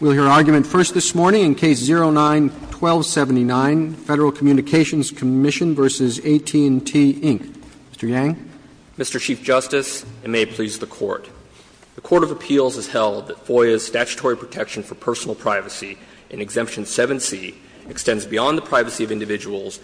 We'll hear argument first this morning in Case 09-1279, Federal Communications Commission v. AT&T, Inc. Mr. Yang. Mr. Chief Justice, and may it please the Court, the Court of Appeals has held that FOIA's statutory protection for personal privacy in Exemption 7c extends beyond the privacy of individuals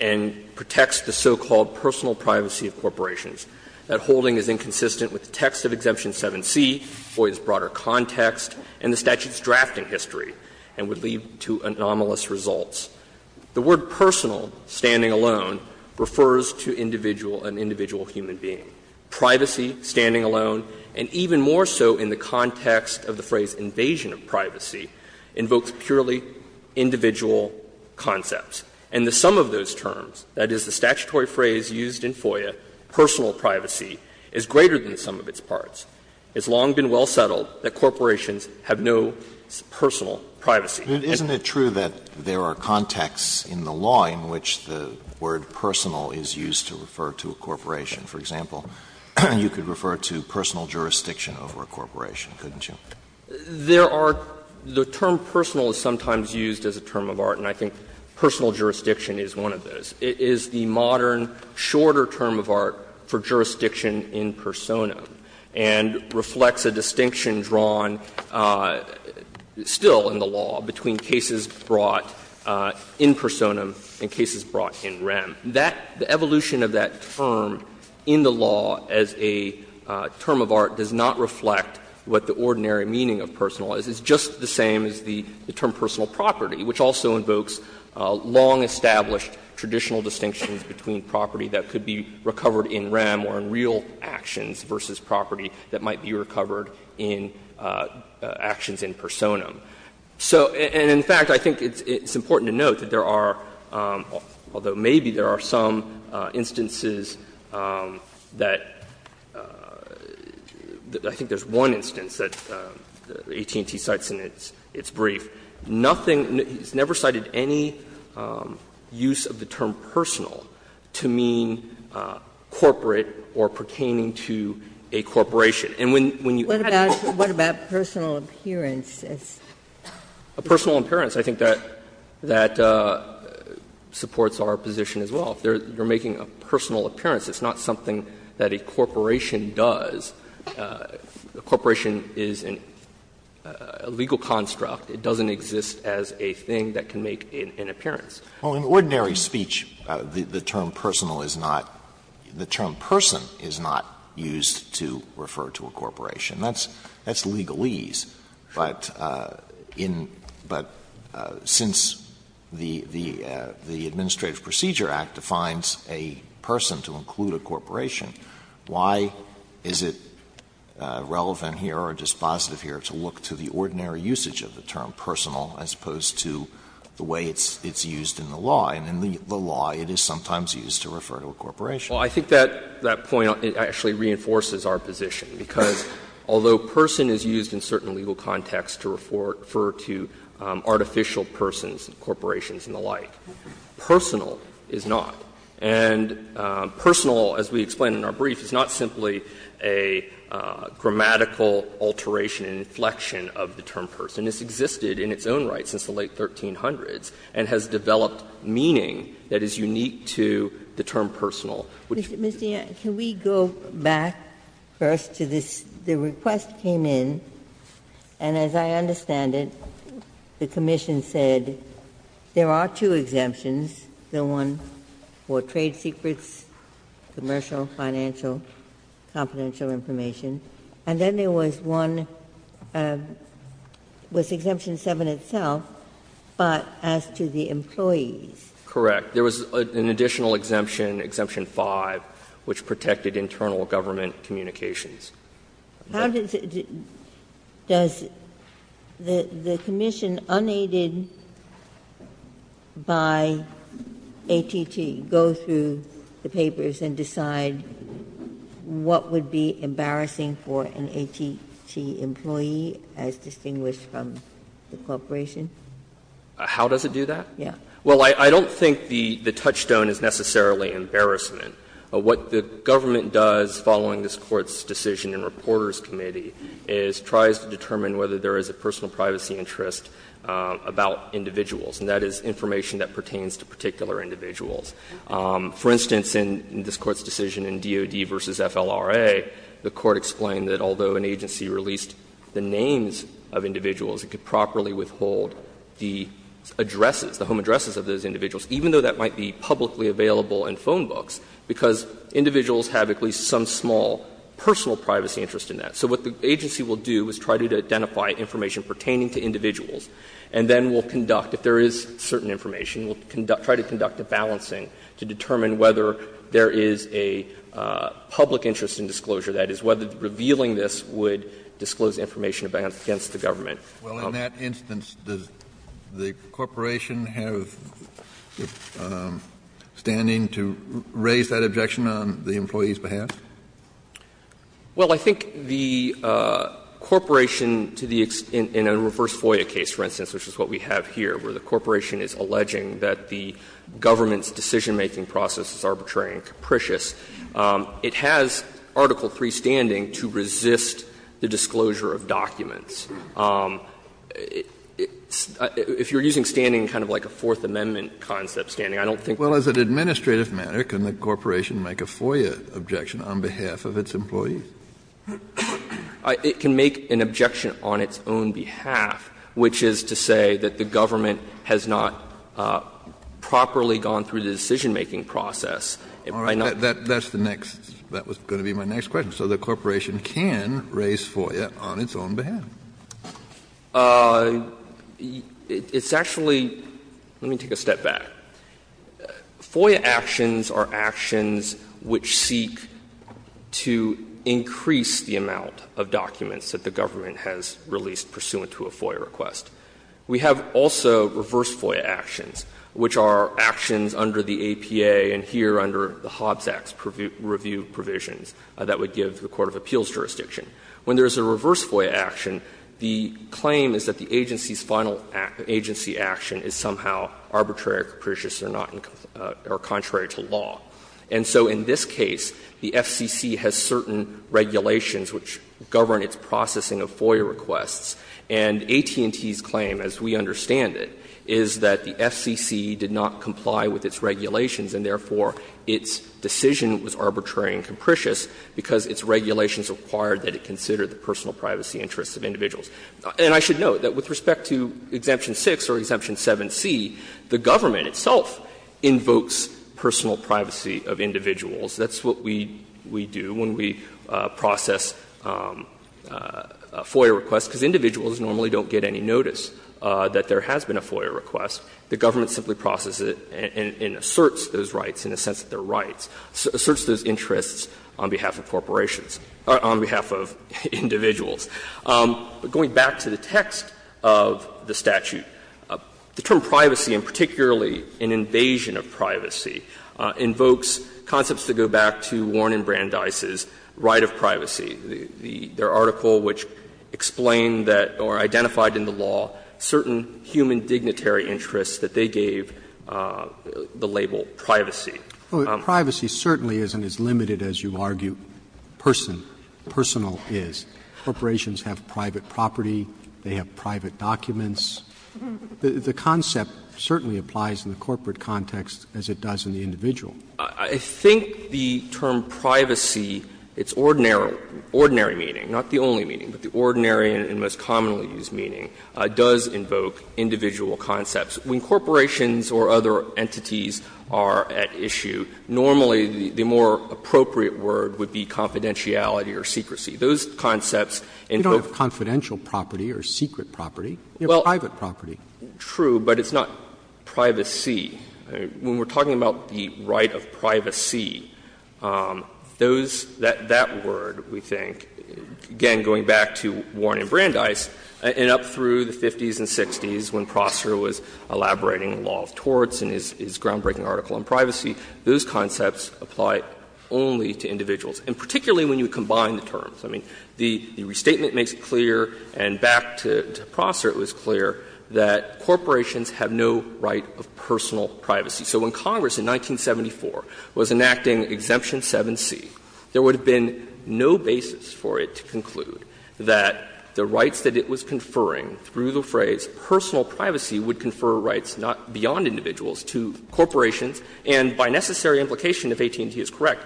and protects the so-called personal privacy of corporations. That holding is inconsistent with the text of Exemption 7c, FOIA's broader context, and the statute's drafting history, and would lead to anomalous results. The word personal, standing alone, refers to individual, an individual human being. Privacy, standing alone, and even more so in the context of the phrase invasion of privacy, invokes purely individual concepts. And the sum of those terms, that is, the statutory phrase used in FOIA, personal privacy, is greater than the sum of its parts. It's long been well settled that corporations have no personal privacy. Alito, isn't it true that there are contexts in the law in which the word personal is used to refer to a corporation? For example, you could refer to personal jurisdiction over a corporation, couldn't you? There are the term personal is sometimes used as a term of art, and I think personal jurisdiction is one of those. It is the modern, shorter term of art for jurisdiction in personam. And reflects a distinction drawn still in the law between cases brought in personam and cases brought in rem. That, the evolution of that term in the law as a term of art does not reflect what the ordinary meaning of personal is. It's just the same as the term personal property, which also invokes long-established traditional distinctions between property that could be recovered in rem or in real actions versus property that might be recovered in actions in personam. So, and in fact, I think it's important to note that there are, although maybe there are some instances that, I think there's one instance that AT&T cites in its brief. Nothing, it's never cited any use of the term personal to mean corporate or percane to a corporation. And when you add up all of them. What about personal appearance? A personal appearance, I think that supports our position as well. If they're making a personal appearance, it's not something that a corporation does. A corporation is a legal construct. It doesn't exist as a thing that can make an appearance. Alito, what do you think it is? Alito, well, in ordinary speech, the term personal is not the term person is not used to refer to a corporation. That's legalese. But in but since the Administrative Procedure Act defines a person to include a corporation, why is it relevant here or dispositive here to look to the ordinary usage of the term personal as opposed to the way it's used in the law? And in the law, it is sometimes used to refer to a corporation. Well, I think that point actually reinforces our position, because although person is used in certain legal contexts to refer to artificial persons, corporations and the like, personal is not. And personal, as we explain in our brief, is not simply a grammatical alteration and inflection of the term person. This existed in its own right since the late 1300s and has developed meaning that is unique to the term personal. Ginsburg. Ginsburg. Ms. Dean, can we go back first to this? The request came in, and as I understand it, the commission said there are two exemptions, the one for trade secrets, commercial, financial, confidential information, and then there was one with Exemption 7 itself, but as to the employees. Correct. There was an additional exemption, Exemption 5, which protected internal government communications. How does it do the commission unaided by ATT go through the papers and decide what would be embarrassing for an ATT employee as distinguished from the corporation? How does it do that? Yes. Well, I don't think the touchstone is necessarily embarrassment. What the government does following this Court's decision in Reporters Committee is tries to determine whether there is a personal privacy interest about individuals, and that is information that pertains to particular individuals. For instance, in this Court's decision in DOD v. FLRA, the Court explained that although an agency released the names of individuals, it could properly withhold the addresses, the home addresses of those individuals, even though that might be publicly available in phone books, because individuals have at least some small personal privacy interest in that. So what the agency will do is try to identify information pertaining to individuals, and then will conduct, if there is certain information, will conduct, try to conduct a balancing to determine whether there is a public interest in disclosure. That is, whether revealing this would disclose information against the government. Well, in that instance, does the corporation have standing to raise that objection on the employee's behalf? Well, I think the corporation, in a reverse FOIA case, for instance, which is what we have here, where the corporation is alleging that the government's decision-making process is arbitrary and capricious, it has Article III standing to resist the disclosure of documents. If you are using standing kind of like a Fourth Amendment concept standing, I don't think that's the case. Well, as an administrative matter, can the corporation make a FOIA objection on behalf of its employees? It can make an objection on its own behalf, which is to say that the government has not properly gone through the decision-making process. That's the next, that was going to be my next question. So the corporation can raise FOIA on its own behalf. It's actually, let me take a step back. FOIA actions are actions which seek to increase the amount of documents that the government has released pursuant to a FOIA request. We have also reverse FOIA actions, which are actions under the APA and here under the Hobbs Act's review provisions that would give the court of appeals jurisdiction. When there is a reverse FOIA action, the claim is that the agency's final agency action is somehow arbitrary or capricious or not, or contrary to law. And so in this case, the FCC has certain regulations which govern its processing of FOIA requests, and AT&T's claim, as we understand it, is that the FCC did not comply with its regulations and, therefore, its decision was arbitrary and capricious because its regulations required that it consider the personal privacy interests of individuals. And I should note that with respect to Exemption 6 or Exemption 7c, the government itself invokes personal privacy of individuals. That's what we do when we process a FOIA request, because individuals normally don't get any notice that there has been a FOIA request. The government simply processes it and asserts those rights in the sense that they are rights, asserts those interests on behalf of corporations, on behalf of individuals. Going back to the text of the statute, the term privacy, and particularly an invasion of privacy, invokes concepts that go back to Warren and Brandeis' right of privacy, their article which explained that or identified in the law certain human dignitary interests that they gave the label privacy. Roberts. But privacy certainly isn't as limited as you argue person, personal is. Corporations have private property, they have private documents. The concept certainly applies in the corporate context as it does in the individual. I think the term privacy, its ordinary meaning, not the only meaning, but the ordinary and most commonly used meaning, does invoke individual concepts. When corporations or other entities are at issue, normally the more appropriate word would be confidentiality or secrecy. Those concepts invoke. Roberts. You don't have confidential property or secret property. You have private property. True, but it's not privacy. When we are talking about the right of privacy, those — that word, we think, again, going back to Warren and Brandeis, and up through the 50s and 60s when Prosser was elaborating the law of torts in his groundbreaking article on privacy, those concepts apply only to individuals, and particularly when you combine the terms. I mean, the restatement makes it clear, and back to Prosser it was clear, that corporations have no right of personal privacy. So when Congress in 1974 was enacting Exemption 7C, there would have been no basis for it to conclude that the rights that it was conferring through the phrase personal privacy would confer rights beyond individuals to corporations, and by necessary implication if AT&T is correct,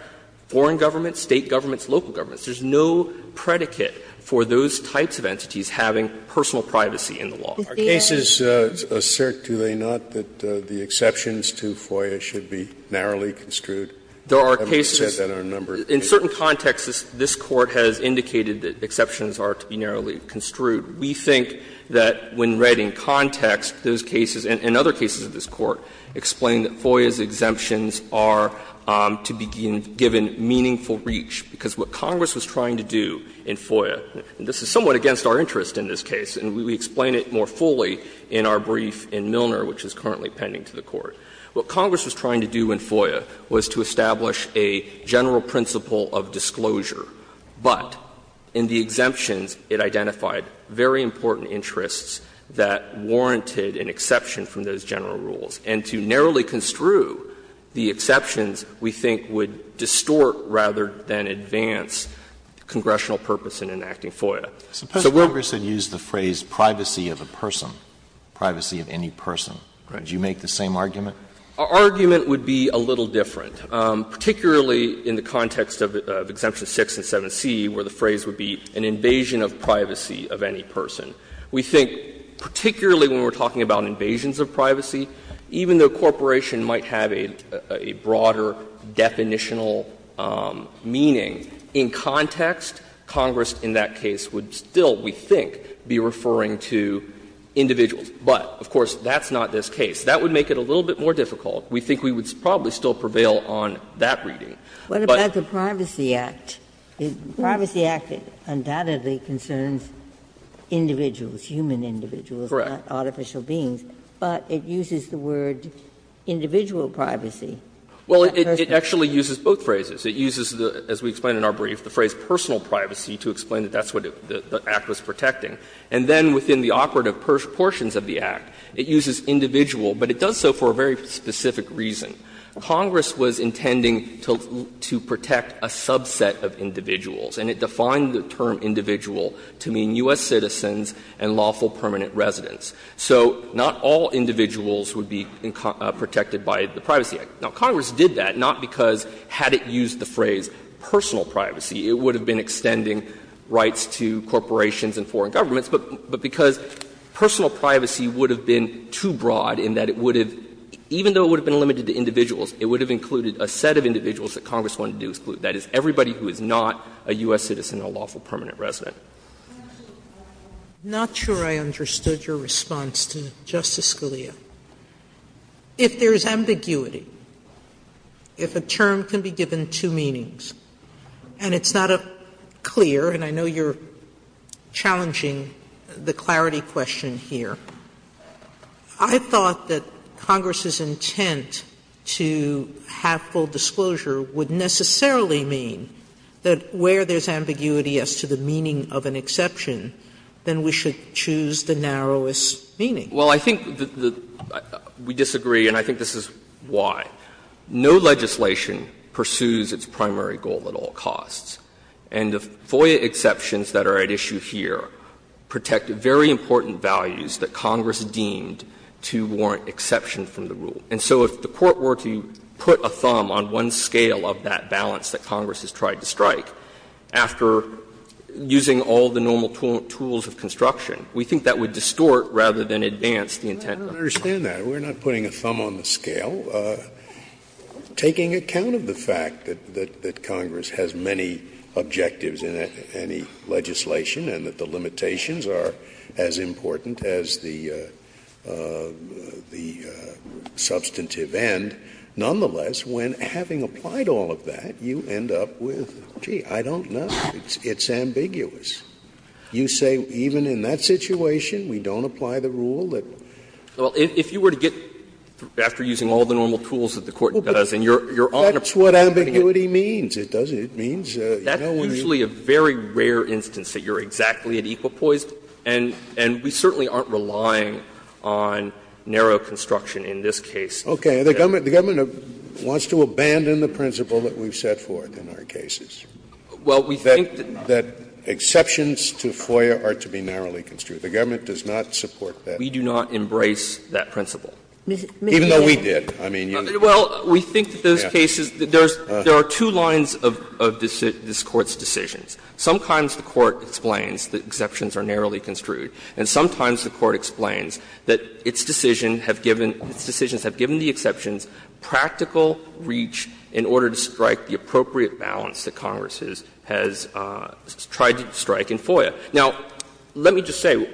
foreign governments, State governments, local governments. There's no predicate for those types of entities having personal privacy in the law. Scalia. Scalia. Our cases assert, do they not, that the exceptions to FOIA should be narrowly construed? There are cases that are a number of cases. In certain contexts, this Court has indicated that exceptions are to be narrowly construed. We think that when read in context, those cases, and other cases of this Court, explain that FOIA's exemptions are to be given meaningful reach, because what Congress was trying to do in FOIA, and this is somewhat against our interest in this case, and we explain it more fully in our brief in Milner, which is currently pending to the Court, what Congress was trying to do in FOIA was to establish a general principle of disclosure, but in the exemptions it identified very important interests that warranted an exception from those general rules, and to narrowly construe the exceptions, we think would distort rather than advance congressional purpose in enacting FOIA. So we're going to use the phrase privacy of a person, privacy of any person. Do you make the same argument? Our argument would be a little different, particularly in the context of Exemption 6 and 7c, where the phrase would be an invasion of privacy of any person. We think, particularly when we're talking about invasions of privacy, even though corporation might have a broader definitional meaning, in context, Congress in that case would still, we think, be referring to individuals. But, of course, that's not this case. That would make it a little bit more difficult. We think we would probably still prevail on that reading. But. Ginsburg. What about the Privacy Act? The Privacy Act undoubtedly concerns individuals, human individuals, not artificial beings. But it uses the word individual privacy. Well, it actually uses both phrases. It uses, as we explain in our brief, the phrase personal privacy to explain that that's what the Act was protecting. And then within the operative portions of the Act, it uses individual, but it does so for a very specific reason. Congress was intending to protect a subset of individuals, and it defined the term individual to mean U.S. citizens and lawful permanent residents. So not all individuals would be protected by the Privacy Act. Now, Congress did that, not because, had it used the phrase personal privacy, it would have been extending rights to corporations and foreign governments, but because personal privacy would have been too broad in that it would have, even though it would have been limited to individuals, it would have included a set of individuals that Congress wanted to exclude, that is, everybody who is not a U.S. citizen and a lawful permanent resident. Sotomayor, I'm not sure I understood your response to Justice Scalia. If there is ambiguity, if a term can be given two meanings, and it's not clear, and I know you're challenging the clarity question here, I thought that Congress's intent to have full disclosure would necessarily mean that where there's ambiguity as to the meaning of an exception, then we should choose the narrowest meaning. Well, I think we disagree, and I think this is why. No legislation pursues its primary goal at all costs. And the FOIA exceptions that are at issue here protect very important values that Congress deemed to warrant exception from the rule. And so if the Court were to put a thumb on one scale of that balance that Congress has tried to strike, after using all the normal tools of construction, we think that that would distort rather than advance the intent of the rule. Scalia, I don't understand that. We're not putting a thumb on the scale. Taking account of the fact that Congress has many objectives in any legislation and that the limitations are as important as the substantive end, nonetheless, when having applied all of that, you end up with, gee, I don't know, it's ambiguous. You say even in that situation we don't apply the rule that? Well, if you were to get, after using all the normal tools that the Court does, and you're on a point of putting it. That's what ambiguity means. It means, you know, when you're in a situation where there's ambiguity, it's ambiguous. That's usually a very rare instance that you're exactly at equal poise, and we certainly aren't relying on narrow construction in this case. Okay. The government wants to abandon the principle that we've set forth in our cases. Well, we think that. Exceptions to FOIA are to be narrowly construed. The government does not support that. We do not embrace that principle. Even though we did. I mean, you. Well, we think that those cases, there are two lines of this Court's decisions. Sometimes the Court explains that exceptions are narrowly construed, and sometimes the Court explains that its decision have given, its decisions have given the exceptions practical reach in order to strike the appropriate balance that Congress has tried to strike in FOIA. Now, let me just say,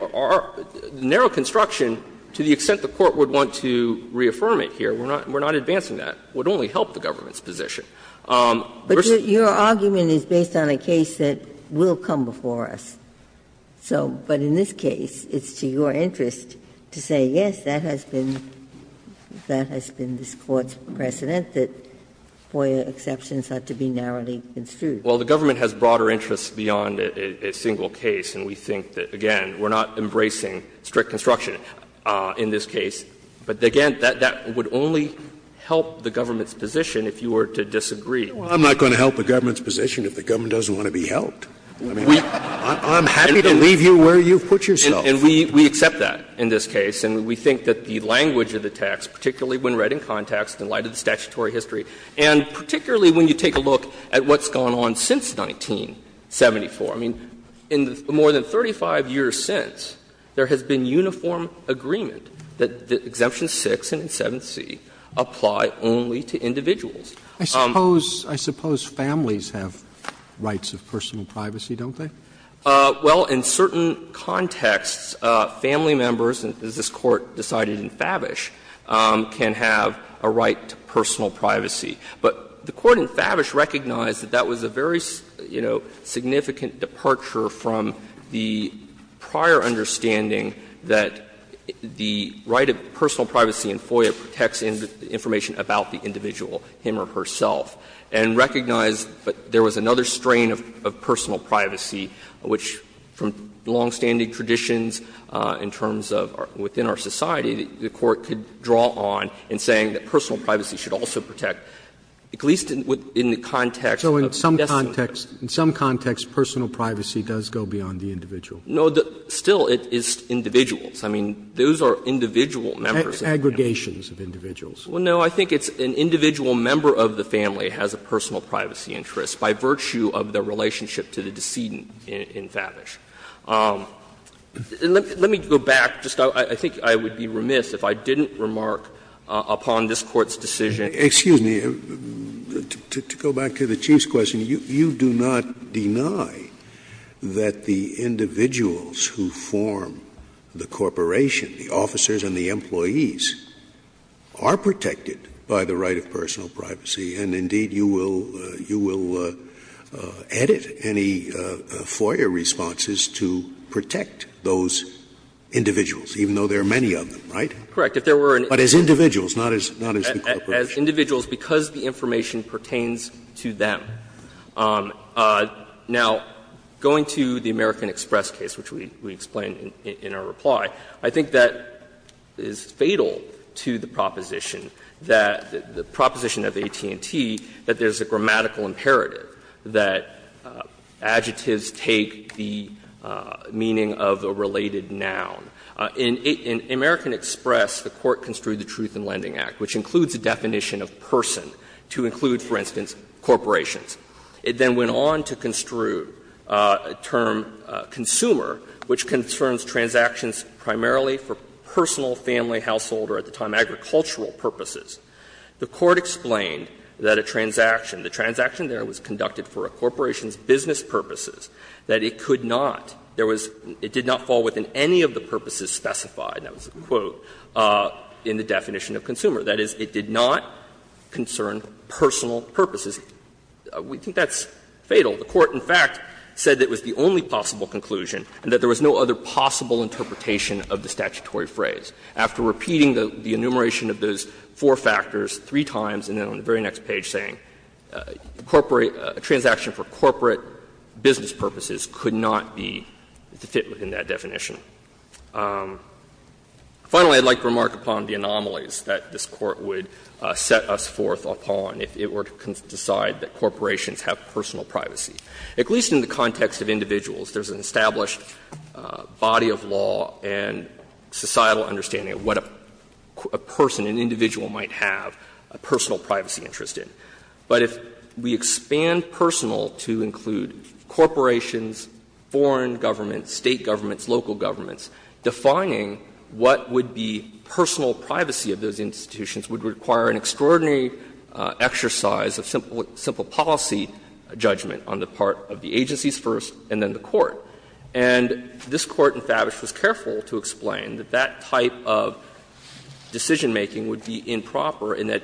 narrow construction, to the extent the Court would want to reaffirm it here, we're not advancing that. It would only help the government's position. But your argument is based on a case that will come before us. So, but in this case, it's to your interest to say, yes, that has been, that has been stated in this Court's precedent, that FOIA exceptions are to be narrowly construed. Well, the government has broader interests beyond a single case, and we think that, again, we're not embracing strict construction in this case. But again, that would only help the government's position if you were to disagree. I'm not going to help the government's position if the government doesn't want to be helped. I mean, I'm happy to leave you where you've put yourself. And we accept that in this case, and we think that the language of the text, particularly when read in context, in light of the statutory history, and particularly when you take a look at what's gone on since 1974. I mean, in the more than 35 years since, there has been uniform agreement that Exemption 6 and 7c apply only to individuals. I suppose, I suppose families have rights of personal privacy, don't they? Well, in certain contexts, family members, as this Court decided in Favish, can have a right to personal privacy. But the Court in Favish recognized that that was a very, you know, significant departure from the prior understanding that the right of personal privacy in FOIA protects information about the individual, him or herself, and recognized that there was another strain of personal privacy which, from longstanding traditions in terms of within our society, the Court could draw on in saying that personal privacy should also protect, at least in the context of decimation. So in some context, personal privacy does go beyond the individual? No, still, it is individuals. I mean, those are individual members of the family. Aggregations of individuals. Well, no, I think it's an individual member of the family has a personal privacy interest by virtue of the relationship to the decedent in Favish. Let me go back. I think I would be remiss if I didn't remark upon this Court's decision. Scalia. Excuse me. To go back to the Chief's question, you do not deny that the individuals who form the corporation, the officers and the employees, are protected by the right of personal privacy, and, indeed, you will edit any FOIA responses to say that the right is to protect those individuals, even though there are many of them, right? Correct. But as individuals, not as the corporation. As individuals, because the information pertains to them. Now, going to the American Express case, which we explained in our reply, I think that is fatal to the proposition that the proposition of AT&T that there is a grammatical imperative that adjectives take the meaning of a related noun. In American Express, the Court construed the Truth in Lending Act, which includes a definition of person to include, for instance, corporations. It then went on to construe a term, consumer, which concerns transactions primarily for personal, family, household, or at the time agricultural purposes. The Court explained that a transaction, the transaction there was conducted for a corporation's business purposes, that it could not, there was, it did not fall within any of the purposes specified, and that was a quote, in the definition of consumer. That is, it did not concern personal purposes. We think that's fatal. The Court, in fact, said that was the only possible conclusion and that there was no other possible interpretation of the statutory phrase. After repeating the enumeration of those four factors three times and then on the very next page saying a corporate, a transaction for corporate business purposes could not be, fit within that definition. Finally, I would like to remark upon the anomalies that this Court would set us forth upon if it were to decide that corporations have personal privacy. At least in the context of individuals, there is an established body of law and societal understanding of what a person, an individual might have a personal privacy interest in. But if we expand personal to include corporations, foreign governments, State governments, local governments, defining what would be personal privacy of those institutions would require an extraordinary exercise of simple, simple policy judgment on the part of the agencies first and then the Court. And this Court in Favish was careful to explain that that type of decision-making would be improper in that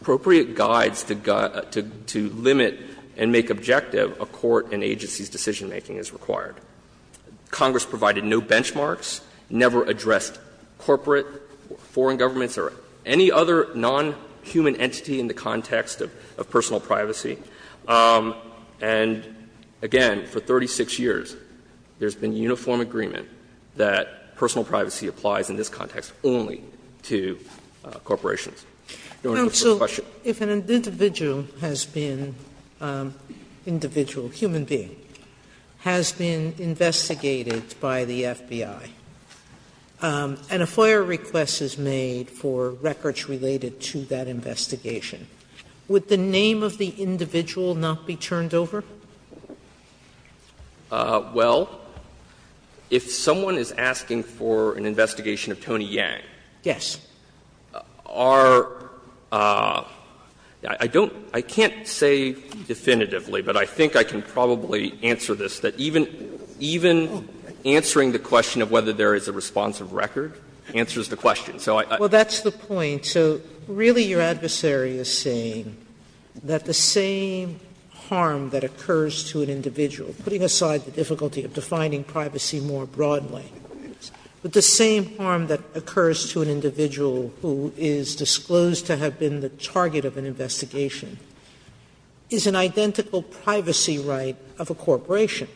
appropriate guides to limit and make objective a court and agency's decision-making is required. Congress provided no benchmarks, never addressed corporate, foreign governments or any other nonhuman entity in the context of personal privacy. And, again, for 36 years, there has been uniform agreement that personal privacy applies in this context only to corporations. Sotomayor, your first question. Sotomayor, if an individual has been an individual, a human being, has been investigated by the FBI, and a FOIA request is made for records related to that investigation, would the name of the individual not be turned over? Well, if someone is asking for an investigation of Tony Yang, our — I don't — I can't say definitively, but I think I can probably answer this, that even answering the question of whether there is a responsive record answers the question. So I— Sotomayor, that's the point. So really your adversary is saying that the same harm that occurs to an individual — putting aside the difficulty of defining privacy more broadly — that the same harm that occurs to an individual who is disclosed to have been the target of an investigation is an identical privacy right of a corporation.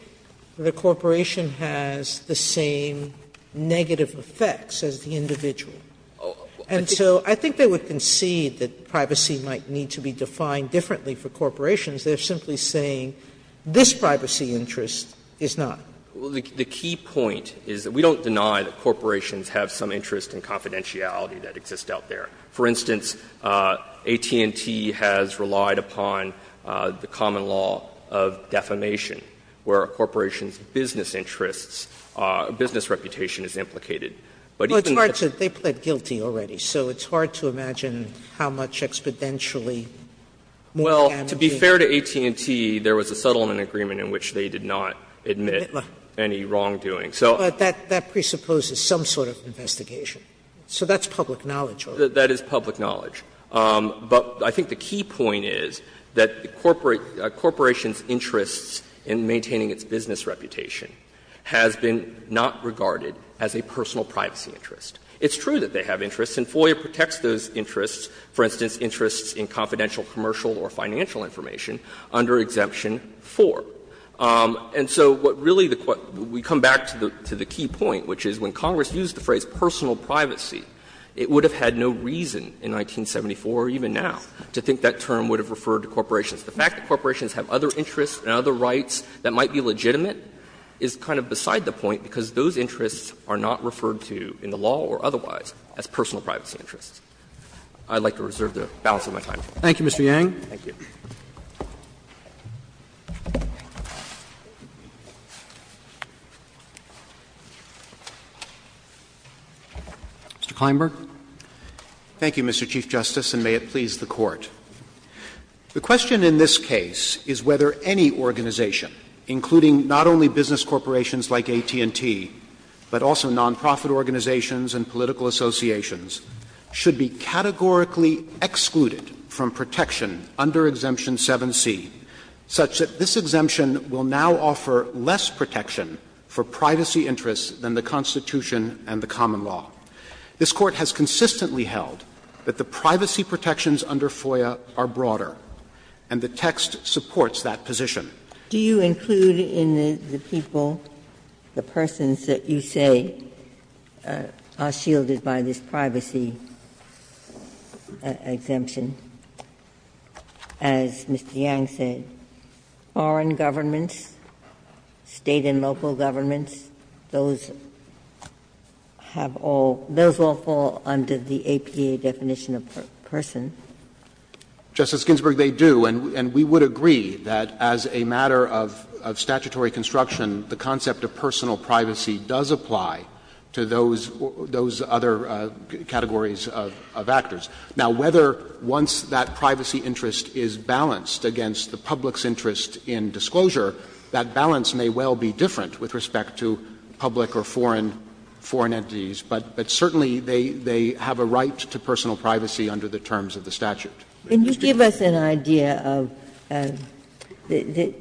The corporation has the same negative effects as the individual. And so I think they would concede that privacy might need to be defined differently for corporations. They're simply saying this privacy interest is not. Well, the key point is that we don't deny that corporations have some interest and confidentiality that exists out there. For instance, AT&T has relied upon the common law of defamation, where a corporation's business interests, business reputation is implicated. But even— Sotomayor, they pled guilty already, so it's hard to imagine how much exponentially more damaging— Well, to be fair to AT&T, there was a settlement agreement in which they did not admit any wrongdoing. So— But that presupposes some sort of investigation. So that's public knowledge already. That is public knowledge. But I think the key point is that the corporation's interests in maintaining its business reputation has been not regarded as a personal privacy interest. It's true that they have interests, and FOIA protects those interests, for instance, interests in confidential commercial or financial information, under Exemption 4. And so what really the question — we come back to the key point, which is when Congress used the phrase personal privacy, it would have had no reason in 1974 or even now to think that term would have referred to corporations. The fact that corporations have other interests and other rights that might be legitimate is kind of beside the point, because those interests are not referred to in the law or otherwise as personal privacy interests. I'd like to reserve the balance of my time. Roberts. Thank you, Mr. Yang. Thank you. Mr. Kleinberg. Thank you, Mr. Chief Justice, and may it please the Court. The question in this case is whether any organization, including not only business corporations like AT&T, but also nonprofit organizations and political associations, should be categorically excluded from protection under Exemption 7c, such that this exemption will now offer less protection for privacy interests than the Constitution and the common law. This Court has consistently held that the privacy protections under FOIA are broader, and the text supports that position. Ginsburg. Do you include in the people, the persons that you say are shielded by this privacy exemption, as Mr. Yang said, foreign governments, State and local governments, those have all – those all fall under the APA definition of person? Justice Ginsburg, they do, and we would agree that as a matter of statutory construction, the concept of personal privacy does apply to those other categories of actors. Now, whether once that privacy interest is balanced against the public's interest in disclosure, that balance may well be different with respect to public or foreign entities, but certainly they have a right to personal privacy under the terms of the statute. Ginsburg. Can you give us an idea of the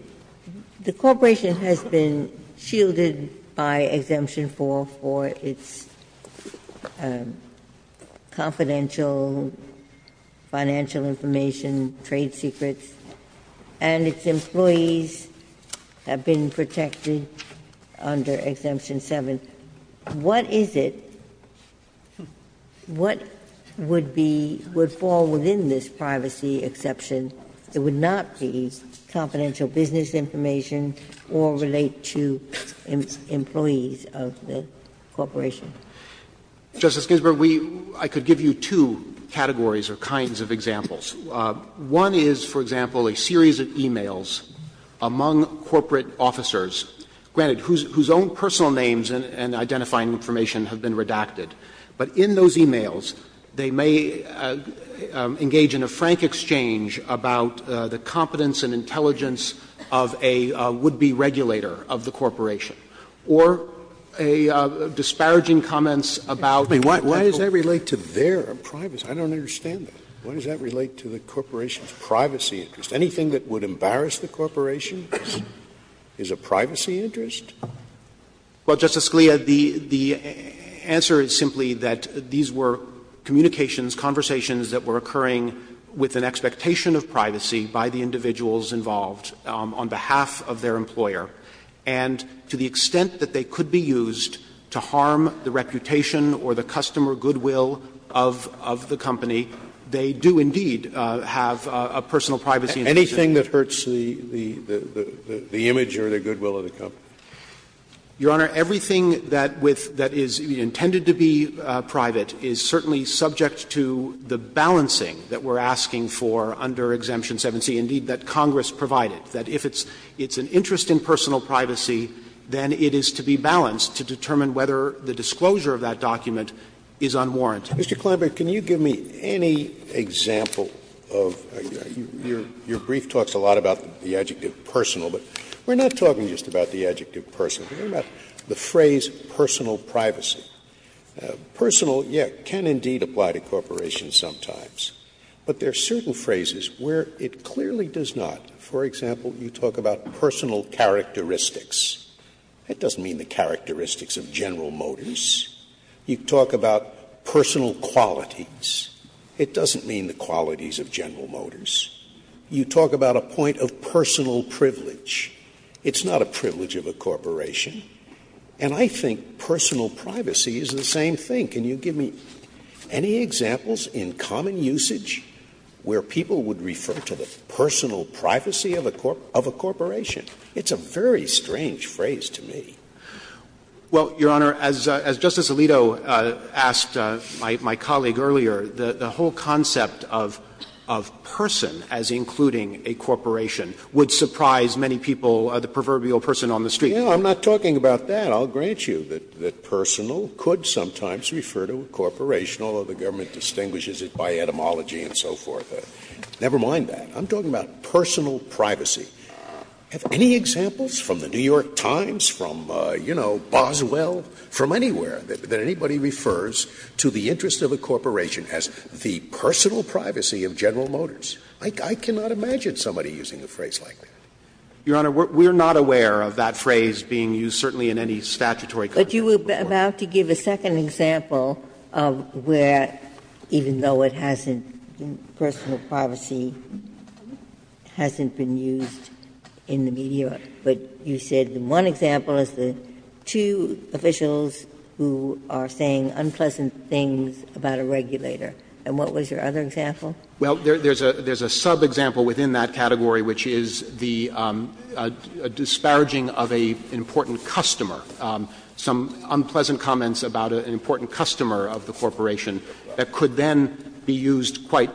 corporation has been shielded by Exemption 4 for its employees have been protected under Exemption 7, what is it, what would be – would fall within this privacy exception that would not be confidential business information or relate to employees of the corporation? Justice Ginsburg, we – I could give you two categories or kinds of examples. One is, for example, a series of e-mails among corporate officers, granted, whose own personal names and identifying information have been redacted, but in those e-mails, they may engage in a frank exchange about the competence and intelligence of a would-be regulator of the corporation, or a disparaging comments about the – Scalia Why does that relate to their privacy? I don't understand that. Scalia Why does that relate to the corporation's privacy interest? Anything that would embarrass the corporation is a privacy interest? Justice Alito Well, Justice Scalia, the answer is simply that these were communications, conversations that were occurring with an expectation of privacy by the individuals involved on behalf of their employer, and to the extent that they could be used to harm the reputation or the customer goodwill of the company, they do indeed have a personal privacy interest. Scalia Anything that hurts the image or the goodwill of the company? Justice Alito Your Honor, everything that is intended to be private is certainly subject to the balancing that we're asking for under Exemption 7c, indeed, that Congress provided, that if it's an interest in personal privacy, then it is to be balanced to determine whether the disclosure of that document is unwarranted. Scalia Mr. Klineberg, can you give me any example of – your brief talks a lot about the adjective personal, but we're not talking just about the adjective personal. We're talking about the phrase personal privacy. Personal, yes, can indeed apply to corporations sometimes, but there are certain phrases where it clearly does not. For example, you talk about personal characteristics. That doesn't mean the characteristics of General Motors. You talk about personal qualities. It doesn't mean the qualities of General Motors. You talk about a point of personal privilege. It's not a privilege of a corporation. And I think personal privacy is the same thing. Can you give me any examples in common usage where people would refer to the personal privacy of a corporation? It's a very strange phrase to me. Klineberg Well, Your Honor, as Justice Alito asked my colleague earlier, the whole concept of person as including a corporation would surprise many people, the proverbial person on the street. Scalia No, I'm not talking about that. I'll grant you that personal could sometimes refer to a corporation, although the government distinguishes it by etymology and so forth. Never mind that. I'm talking about personal privacy. Have any examples from the New York Times, from, you know, Boswell, from anywhere, that anybody refers to the interest of a corporation as the personal privacy of General Motors? I cannot imagine somebody using a phrase like that. Klineberg Your Honor, we're not aware of that phrase being used certainly in any statutory country. Ginsburg Well, there's a sub-example within that category, which is the disparaging of an important customer, some unpleasant comments about an important customer of the corporation that could then be used quite,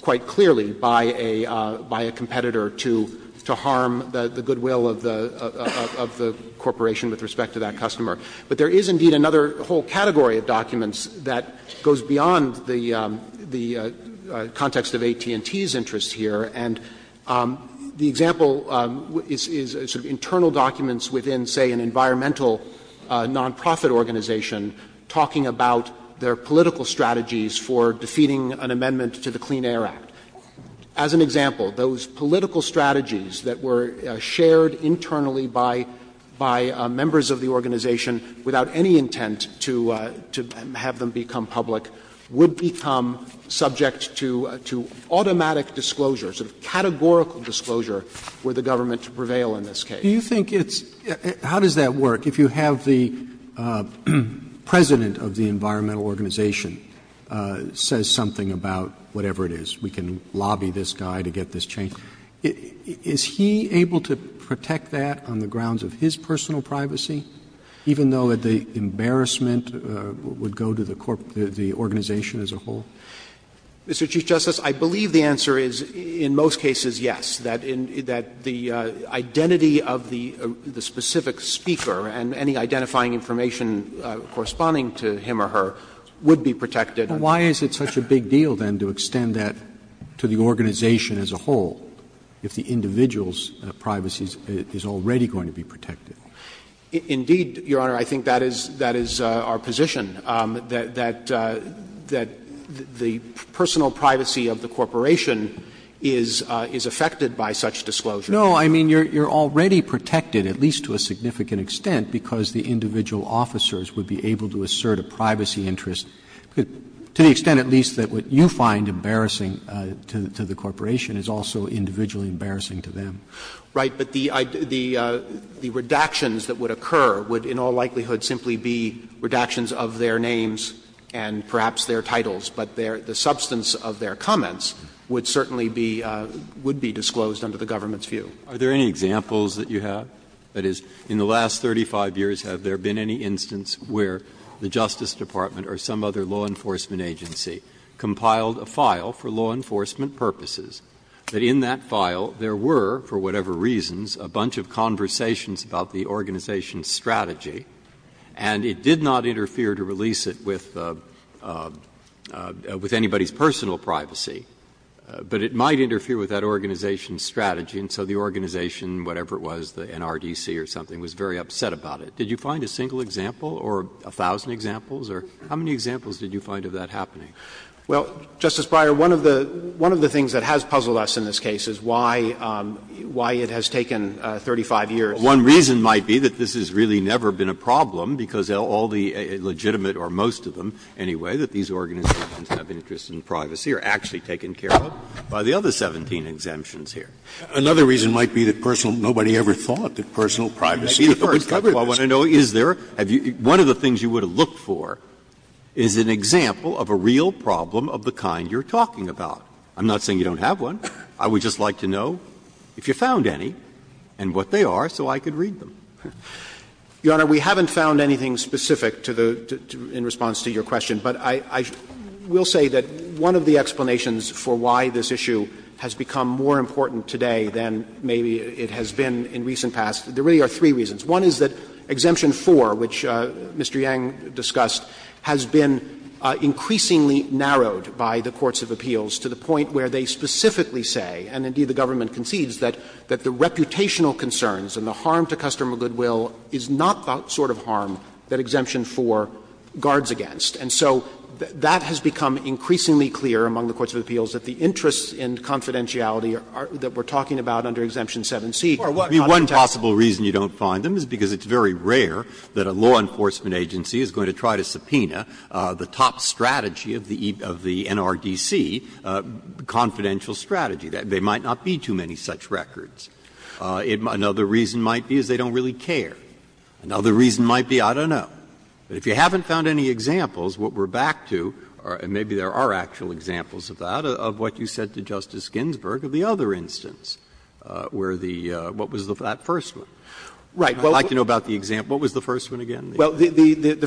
quite cleverly to say, you know, clearly by a competitor to harm the goodwill of the corporation with respect to that customer. But there is, indeed, another whole category of documents that goes beyond the context of AT&T's interest here. And the example is sort of internal documents within, say, an environmental nonprofit organization talking about their political strategies for defeating an amendment to the Clean Air Act. As an example, those political strategies that were shared internally by members of the organization without any intent to have them become public would become subject to automatic disclosure, sort of categorical disclosure, for the government to prevail in this case. Roberts Do you think it's — how does that work? If you have the president of the environmental organization says something about whatever it is, we can lobby this guy to get this changed, is he able to protect that on the grounds of his personal privacy, even though the embarrassment would go to the organization as a whole? Waxman Mr. Chief Justice, I believe the answer is in most cases yes, that the identity of the specific speaker and any identifying information corresponding to him or her would be protected. Roberts Why is it such a big deal, then, to extend that to the organization as a whole if the individual's privacy is already going to be protected? Waxman Indeed, Your Honor, I think that is our position, that the personal privacy of the corporation is affected by such disclosure. Roberts No, I mean, you're already protected, at least to a significant extent, because the individual officers would be able to assert a privacy interest, to the extent at least that what you find embarrassing to the corporation is also individually embarrassing to them. Waxman Right, but the redactions that would occur would in all likelihood simply be redactions of their names and perhaps their titles, but the substance of their comments would certainly be — would be disclosed under the government's view. Breyer Are there any examples that you have? That is, in the last 35 years, have there been any instance where the Justice Department or some other law enforcement agency compiled a file for law enforcement purposes that in that file there were, for whatever reasons, a bunch of conversations about the organization's strategy, and it did not interfere to release it with anybody's personal privacy, but it might interfere with that organization's strategy, and so the organization, whatever it was, the NRDC or something, was very upset about it. Did you find a single example or a thousand examples, or how many examples did you find of that happening? Waxman Well, Justice Breyer, one of the things that has puzzled us in this case is why it has taken 35 years. Breyer One reason might be that this has really never been a problem, because all the legitimate or most of them, anyway, that these organizations have an interest in privacy are actually taken care of by the other 17 exemptions here. Scalia Another reason might be that personal — nobody ever thought that personal privacy was covered in this case. Breyer I want to know, is there — one of the things you would have looked for is an example of a real problem of the kind you're talking about. I'm not saying you don't have one. I would just like to know if you found any and what they are so I could read them. Waxman Your Honor, we haven't found anything specific to the — in response to your question, but I will say that one of the explanations for why this issue has become more important today than maybe it has been in recent past, there really are three reasons. One is that Exemption 4, which Mr. Yang discussed, has been increasingly narrowed by the courts of appeals to the point where they specifically say, and indeed the government concedes, that the reputational concerns and the harm to customer goodwill is not the sort of harm that Exemption 4 guards against. And so that has become increasingly clear among the courts of appeals that the interests in confidentiality that we're talking about under Exemption 7c are not intentional. Breyer One possible reason you don't find them is because it's very rare that a law enforcement agency is going to try to subpoena the top strategy of the NRDC, the confidential strategy. There might not be too many such records. Another reason might be is they don't really care. Another reason might be, I don't know. But if you haven't found any examples, what we're back to, and maybe there are actual examples of that, of what you said to Justice Ginsburg of the other instance, where the, what was that first one? I'd like to know about the example. What was the first one again? They're worried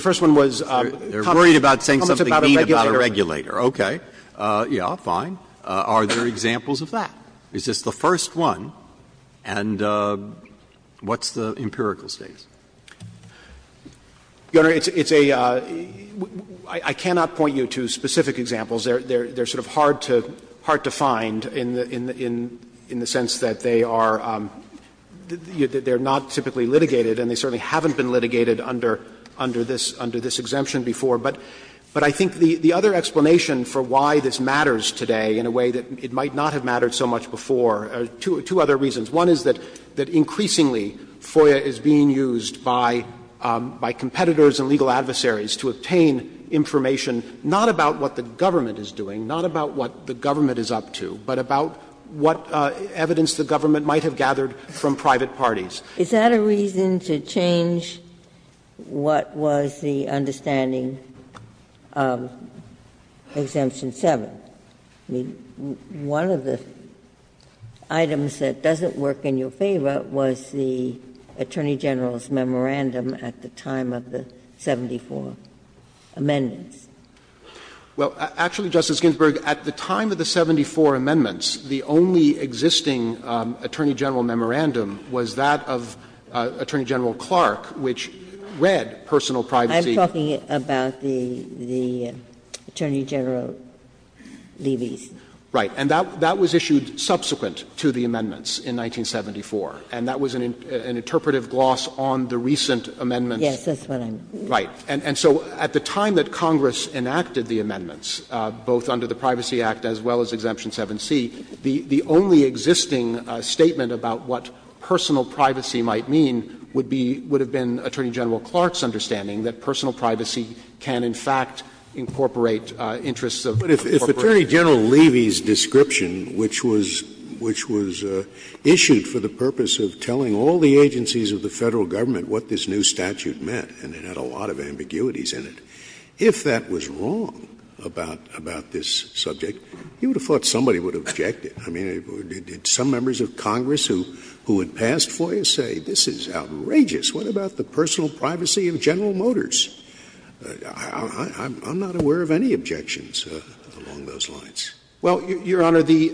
about saying something mean about a regulator. Okay. Yeah, fine. Are there examples of that? Is this the first one? And what's the empirical status? Winsor, it's a — I cannot point you to specific examples. They're sort of hard to find in the sense that they are not typically litigated, and they certainly haven't been litigated under this exemption before. But I think the other explanation for why this matters today in a way that it might not have mattered so much before are two other reasons. One is that increasingly FOIA is being used by competitors and legal adversaries to obtain information not about what the government is doing, not about what the government is up to, but about what evidence the government might have gathered from private parties. Ginsburg's is that a reason to change what was the understanding of Exemption 7? I mean, one of the items that doesn't work in your favor was the Attorney General's memorandum at the time of the 74 amendments. Well, actually, Justice Ginsburg, at the time of the 74 amendments, the only existing Attorney General memorandum was that of Attorney General Clark, which read personal privacy. Ginsburg I am talking about the Attorney General. Levies. Right. That was issued subsequent to the amendments in 1974, and that was an interpretive gloss on the recent amendments. Ginsburg Yes. That's what I'm saying. Right. And so at the time that Congress enacted the amendments, both under the Privacy Act as well as Exemption 7C, the only existing statement about what personal privacy might mean would be — would have been Attorney General Clark's understanding that personal privacy can in fact incorporate interests of corporations. Scalia But if Attorney General Levy's description, which was issued for the purpose of telling all the agencies of the Federal Government what this new statute meant and it had a lot of ambiguities in it, if that was wrong about this subject, you would have thought somebody would have objected. I mean, did some members of Congress who had passed FOIA say, this is outrageous? What about the personal privacy of General Motors? I'm not aware of any objections along those lines. Well, Your Honor, the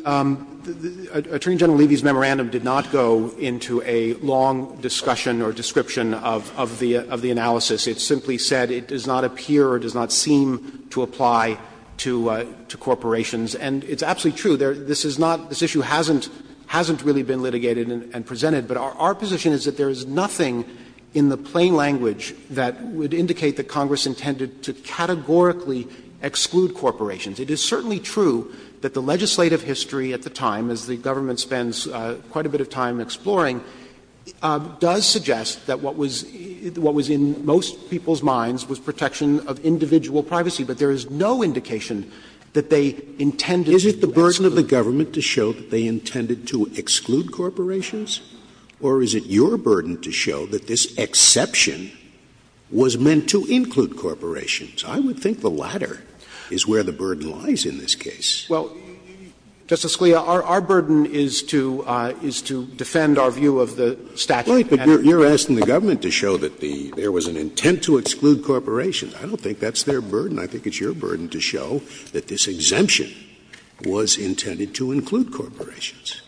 Attorney General Levy's memorandum did not go into a long discussion or description of the analysis. It simply said it does not appear or does not seem to apply to corporations. And it's absolutely true. This is not — this issue hasn't really been litigated and presented. But our position is that there is nothing in the plain language that would indicate that Congress intended to categorically exclude corporations. It is certainly true that the legislative history at the time, as the government spends quite a bit of time exploring, does suggest that what was in most people's minds was protection of individual privacy. But there is no indication that they intended to exclude corporations. Scalia. Is it the burden of the government to show that they intended to exclude corporations, or is it your burden to show that this exception was meant to include corporations? I would think the latter is where the burden lies in this case. Well, Justice Scalia, our burden is to defend our view of the statute. Right, but you're asking the government to show that there was an intent to exclude corporations. I don't think that's their burden. I think it's your burden to show that this exemption was intended to include corporations.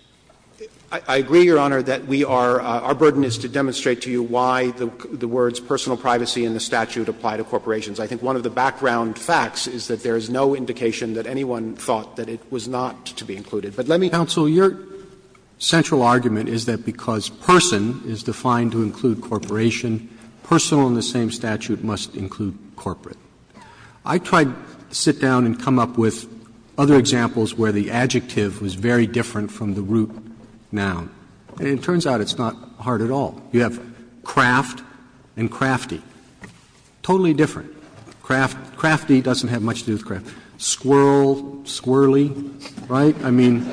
I agree, Your Honor, that we are — our burden is to demonstrate to you why the words personal privacy and the statute apply to corporations. I think one of the background facts is that there is no indication that anyone thought that it was not to be included. But let me say that the statute is not to exclude corporations. Roberts, your central argument is that because person is defined to include corporation, personal in the same statute must include corporate. I tried to sit down and come up with other examples where the adjective was very different from the root noun, and it turns out it's not hard at all. You have craft and crafty, totally different. Crafty doesn't have much to do with craft. Squirrel, squirrely, right? I mean,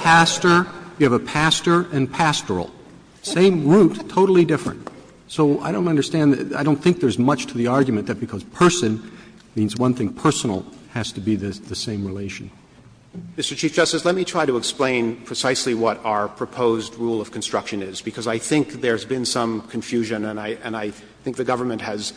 pastor, you have a pastor and pastoral. Same root, totally different. So I don't understand. I don't think there's much to the argument that because person means one thing, personal has to be the same relation. Mr. Chief Justice, let me try to explain precisely what our proposed rule of construction is, because I think there's been some confusion and I think the government has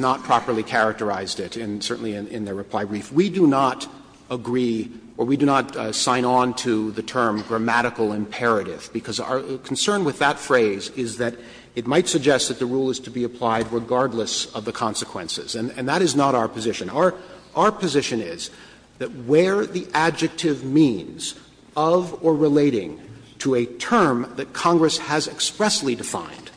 not properly characterized it, and certainly in their reply brief. We do not agree or we do not sign on to the term grammatical imperative, because our concern with that phrase is that it might suggest that the rule is to be applied regardless of the consequences, and that is not our position. Our position is that where the adjective means of or relating to a term that Congress has expressly defined,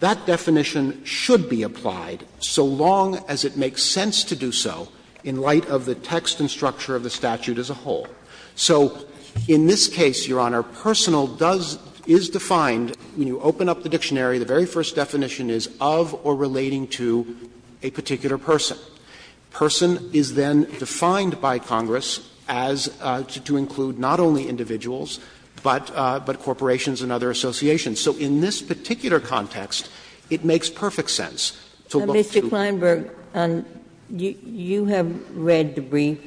that definition should be applied so long as it makes sense to do so in light of the text and structure of the statute as a whole. So in this case, Your Honor, personal does – is defined when you open up the dictionary, the very first definition is of or relating to a particular person. Person is then defined by Congress as to include not only individuals, but corporations and other associations. So in this particular context, it makes perfect sense to look to the text. Ginsburg, you have read the brief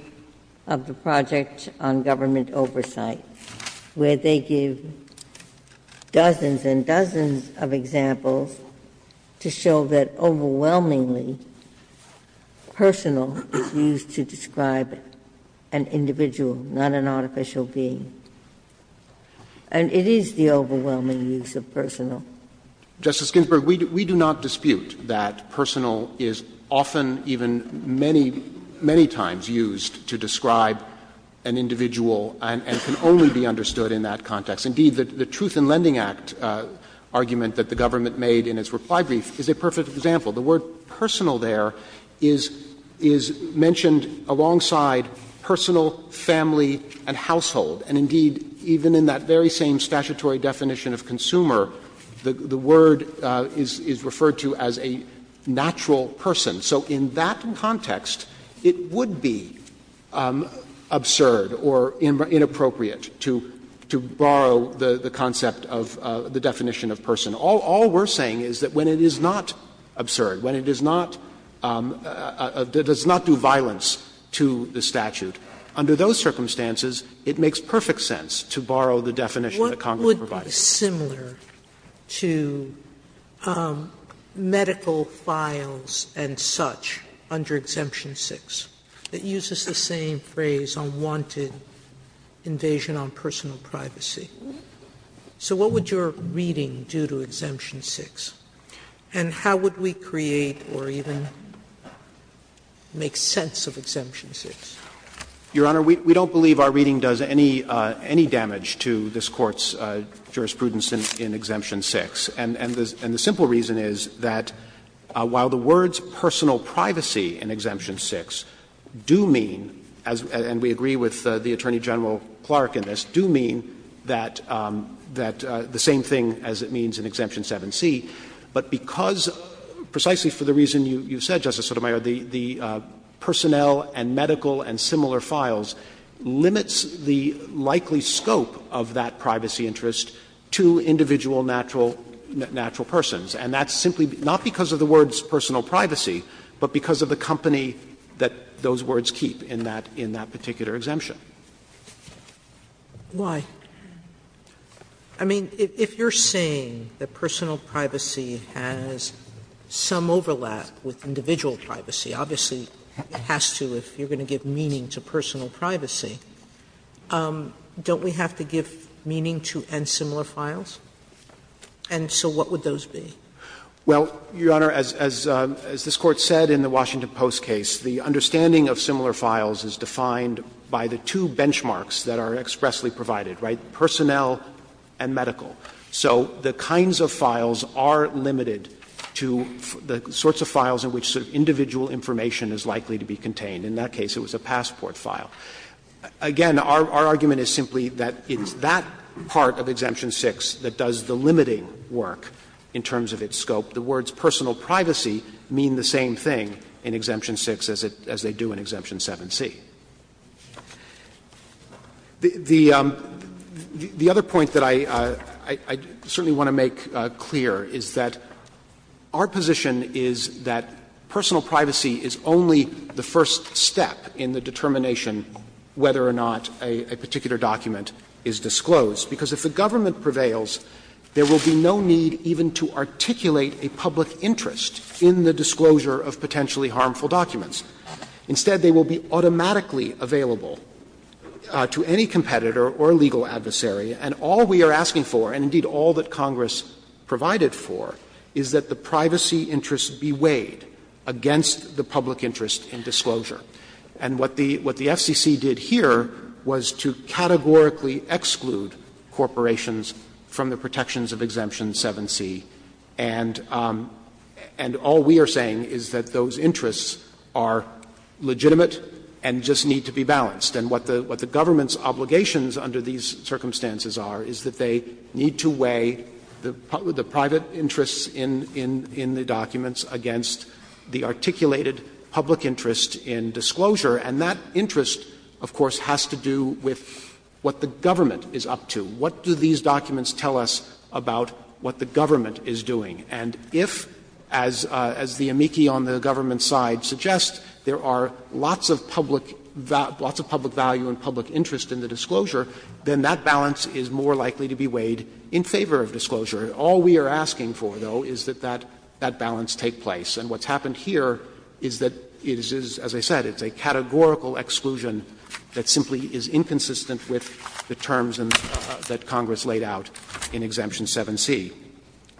of the Project on Government Oversight, where they give dozens and dozens of examples to show that overwhelmingly, personal is used to describe an individual, not an artificial being. And it is the overwhelming use of personal. Winsor, we do not dispute that personal is often, even many, many times used to describe an individual and can only be understood in that context. Indeed, the Truth in Lending Act argument that the government made in its reply brief is a perfect example. The word personal there is mentioned alongside personal, family, and household. And indeed, even in that very same statutory definition of consumer, the word is referred to as a natural person. So in that context, it would be absurd or inappropriate to borrow the concept of the definition of person. All we are saying is that when it is not absurd, when it does not do violence to the statute, under those circumstances, it makes perfect sense to borrow the definition that Congress provided. Sotomayor, what would be similar to medical files and such under Exemption 6? It uses the same phrase, unwanted invasion on personal privacy. So what would your reading do to Exemption 6? And how would we create or even make sense of Exemption 6? Your Honor, we don't believe our reading does any damage to this Court's jurisprudence in Exemption 6. And the simple reason is that while the words personal privacy in Exemption 6 do mean, and we agree with the Attorney General Clark in this, do mean that the same thing as it means in Exemption 7c, but because, precisely for the reason you said, Justice Sotomayor, the personnel and medical and similar files limits the likely scope of that privacy interest to individual natural persons. And that's simply not because of the words personal privacy, but because of the company that those words keep in that particular exemption. Sotomayor, I mean, if you are saying that the word personal privacy in Exemption 7c, if you are saying that personal privacy has some overlap with individual privacy, obviously it has to if you are going to give meaning to personal privacy, don't we have to give meaning to and similar files? And so what would those be? Well, Your Honor, as this Court said in the Washington Post case, the understanding of similar files is defined by the two benchmarks that are expressly provided, right, personnel and medical. So the kinds of files are limited to the sorts of files in which sort of individual information is likely to be contained. In that case, it was a passport file. Again, our argument is simply that it's that part of Exemption 6 that does the limiting work in terms of its scope. The words personal privacy mean the same thing in Exemption 6 as they do in Exemption 7c. The other point that I certainly want to make clear is that our position is that personal privacy is only the first step in the determination whether or not a particular document is disclosed, because if the government prevails, there will be no need even to articulate a public interest in the disclosure of potentially harmful documents. Instead, they will be automatically available to any competitor or legal adversary, and all we are asking for, and indeed all that Congress provided for, is that the privacy interests be weighed against the public interest in disclosure. And what the FCC did here was to categorically exclude corporations from the protections of Exemption 7c. And all we are saying is that those interests are legitimate and just need to be balanced. And what the government's obligations under these circumstances are is that they need to weigh the private interests in the documents against the articulated public interest in disclosure, and that interest, of course, has to do with what the government is up to. What do these documents tell us about what the government is doing? And if, as the amici on the government's side suggest, there are lots of public value and public interest in the disclosure, then that balance is more likely to be weighed in favor of disclosure. All we are asking for, though, is that that balance take place. And what's happened here is that it is, as I said, it's a categorical exclusion that simply is inconsistent with the terms that Congress laid out in Exemption 7c.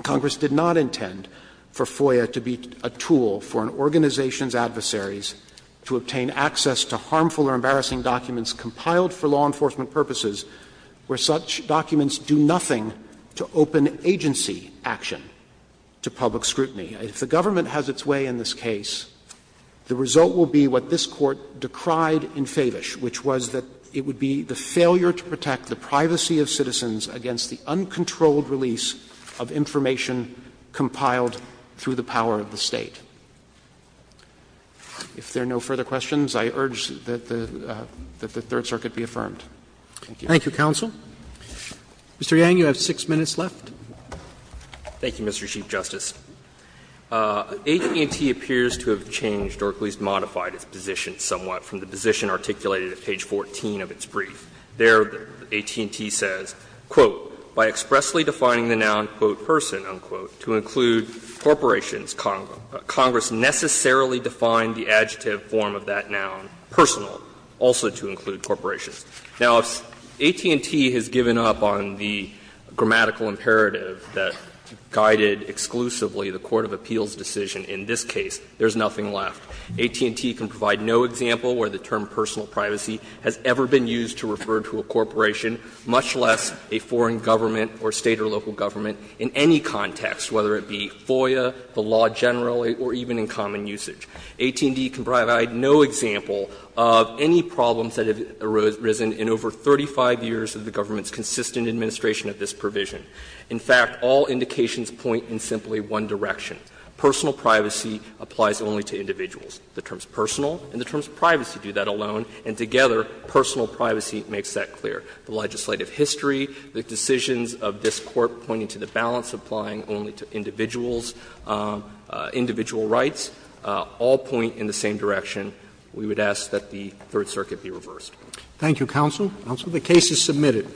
Congress did not intend for FOIA to be a tool for an organization's adversaries to obtain access to harmful or embarrassing documents compiled for law enforcement purposes where such documents do nothing to open agency action to public scrutiny. If the government has its way in this case, the result will be what this Court decried in Favish, which was that it would be the failure to protect the privacy of citizens against the uncontrolled release of information compiled through the power of the State. If there are no further questions, I urge that the Third Circuit be affirmed. Thank you. Roberts. Thank you, counsel. Mr. Yang, you have 6 minutes left. Yang, thank you, Mr. Chief Justice. AT&T appears to have changed or at least modified its position somewhat from the position articulated at page 14 of its brief. There AT&T says, quote, "...by expressly defining the noun quote person unquote to include corporations, Congress necessarily defined the adjective form of that noun personal also to include corporations." Now, AT&T has given up on the grammatical imperative that guided exclusively the court of appeals decision in this case. There is nothing left. AT&T can provide no example where the term personal privacy has ever been used to refer to a corporation, much less a foreign government or State or local government in any context, whether it be FOIA, the law generally, or even in common usage. AT&T can provide no example of any problems that have arisen in over 35 years of the government's consistent administration of this provision. In fact, all indications point in simply one direction. Personal privacy applies only to individuals. The terms personal and the terms privacy do that alone, and together, personal privacy makes that clear. The legislative history, the decisions of this Court pointing to the balance applying only to individuals, individual rights, all point in the same direction. We would ask that the Third Circuit be reversed. Roberts. Thank you, counsel. Counsel. The case is submitted.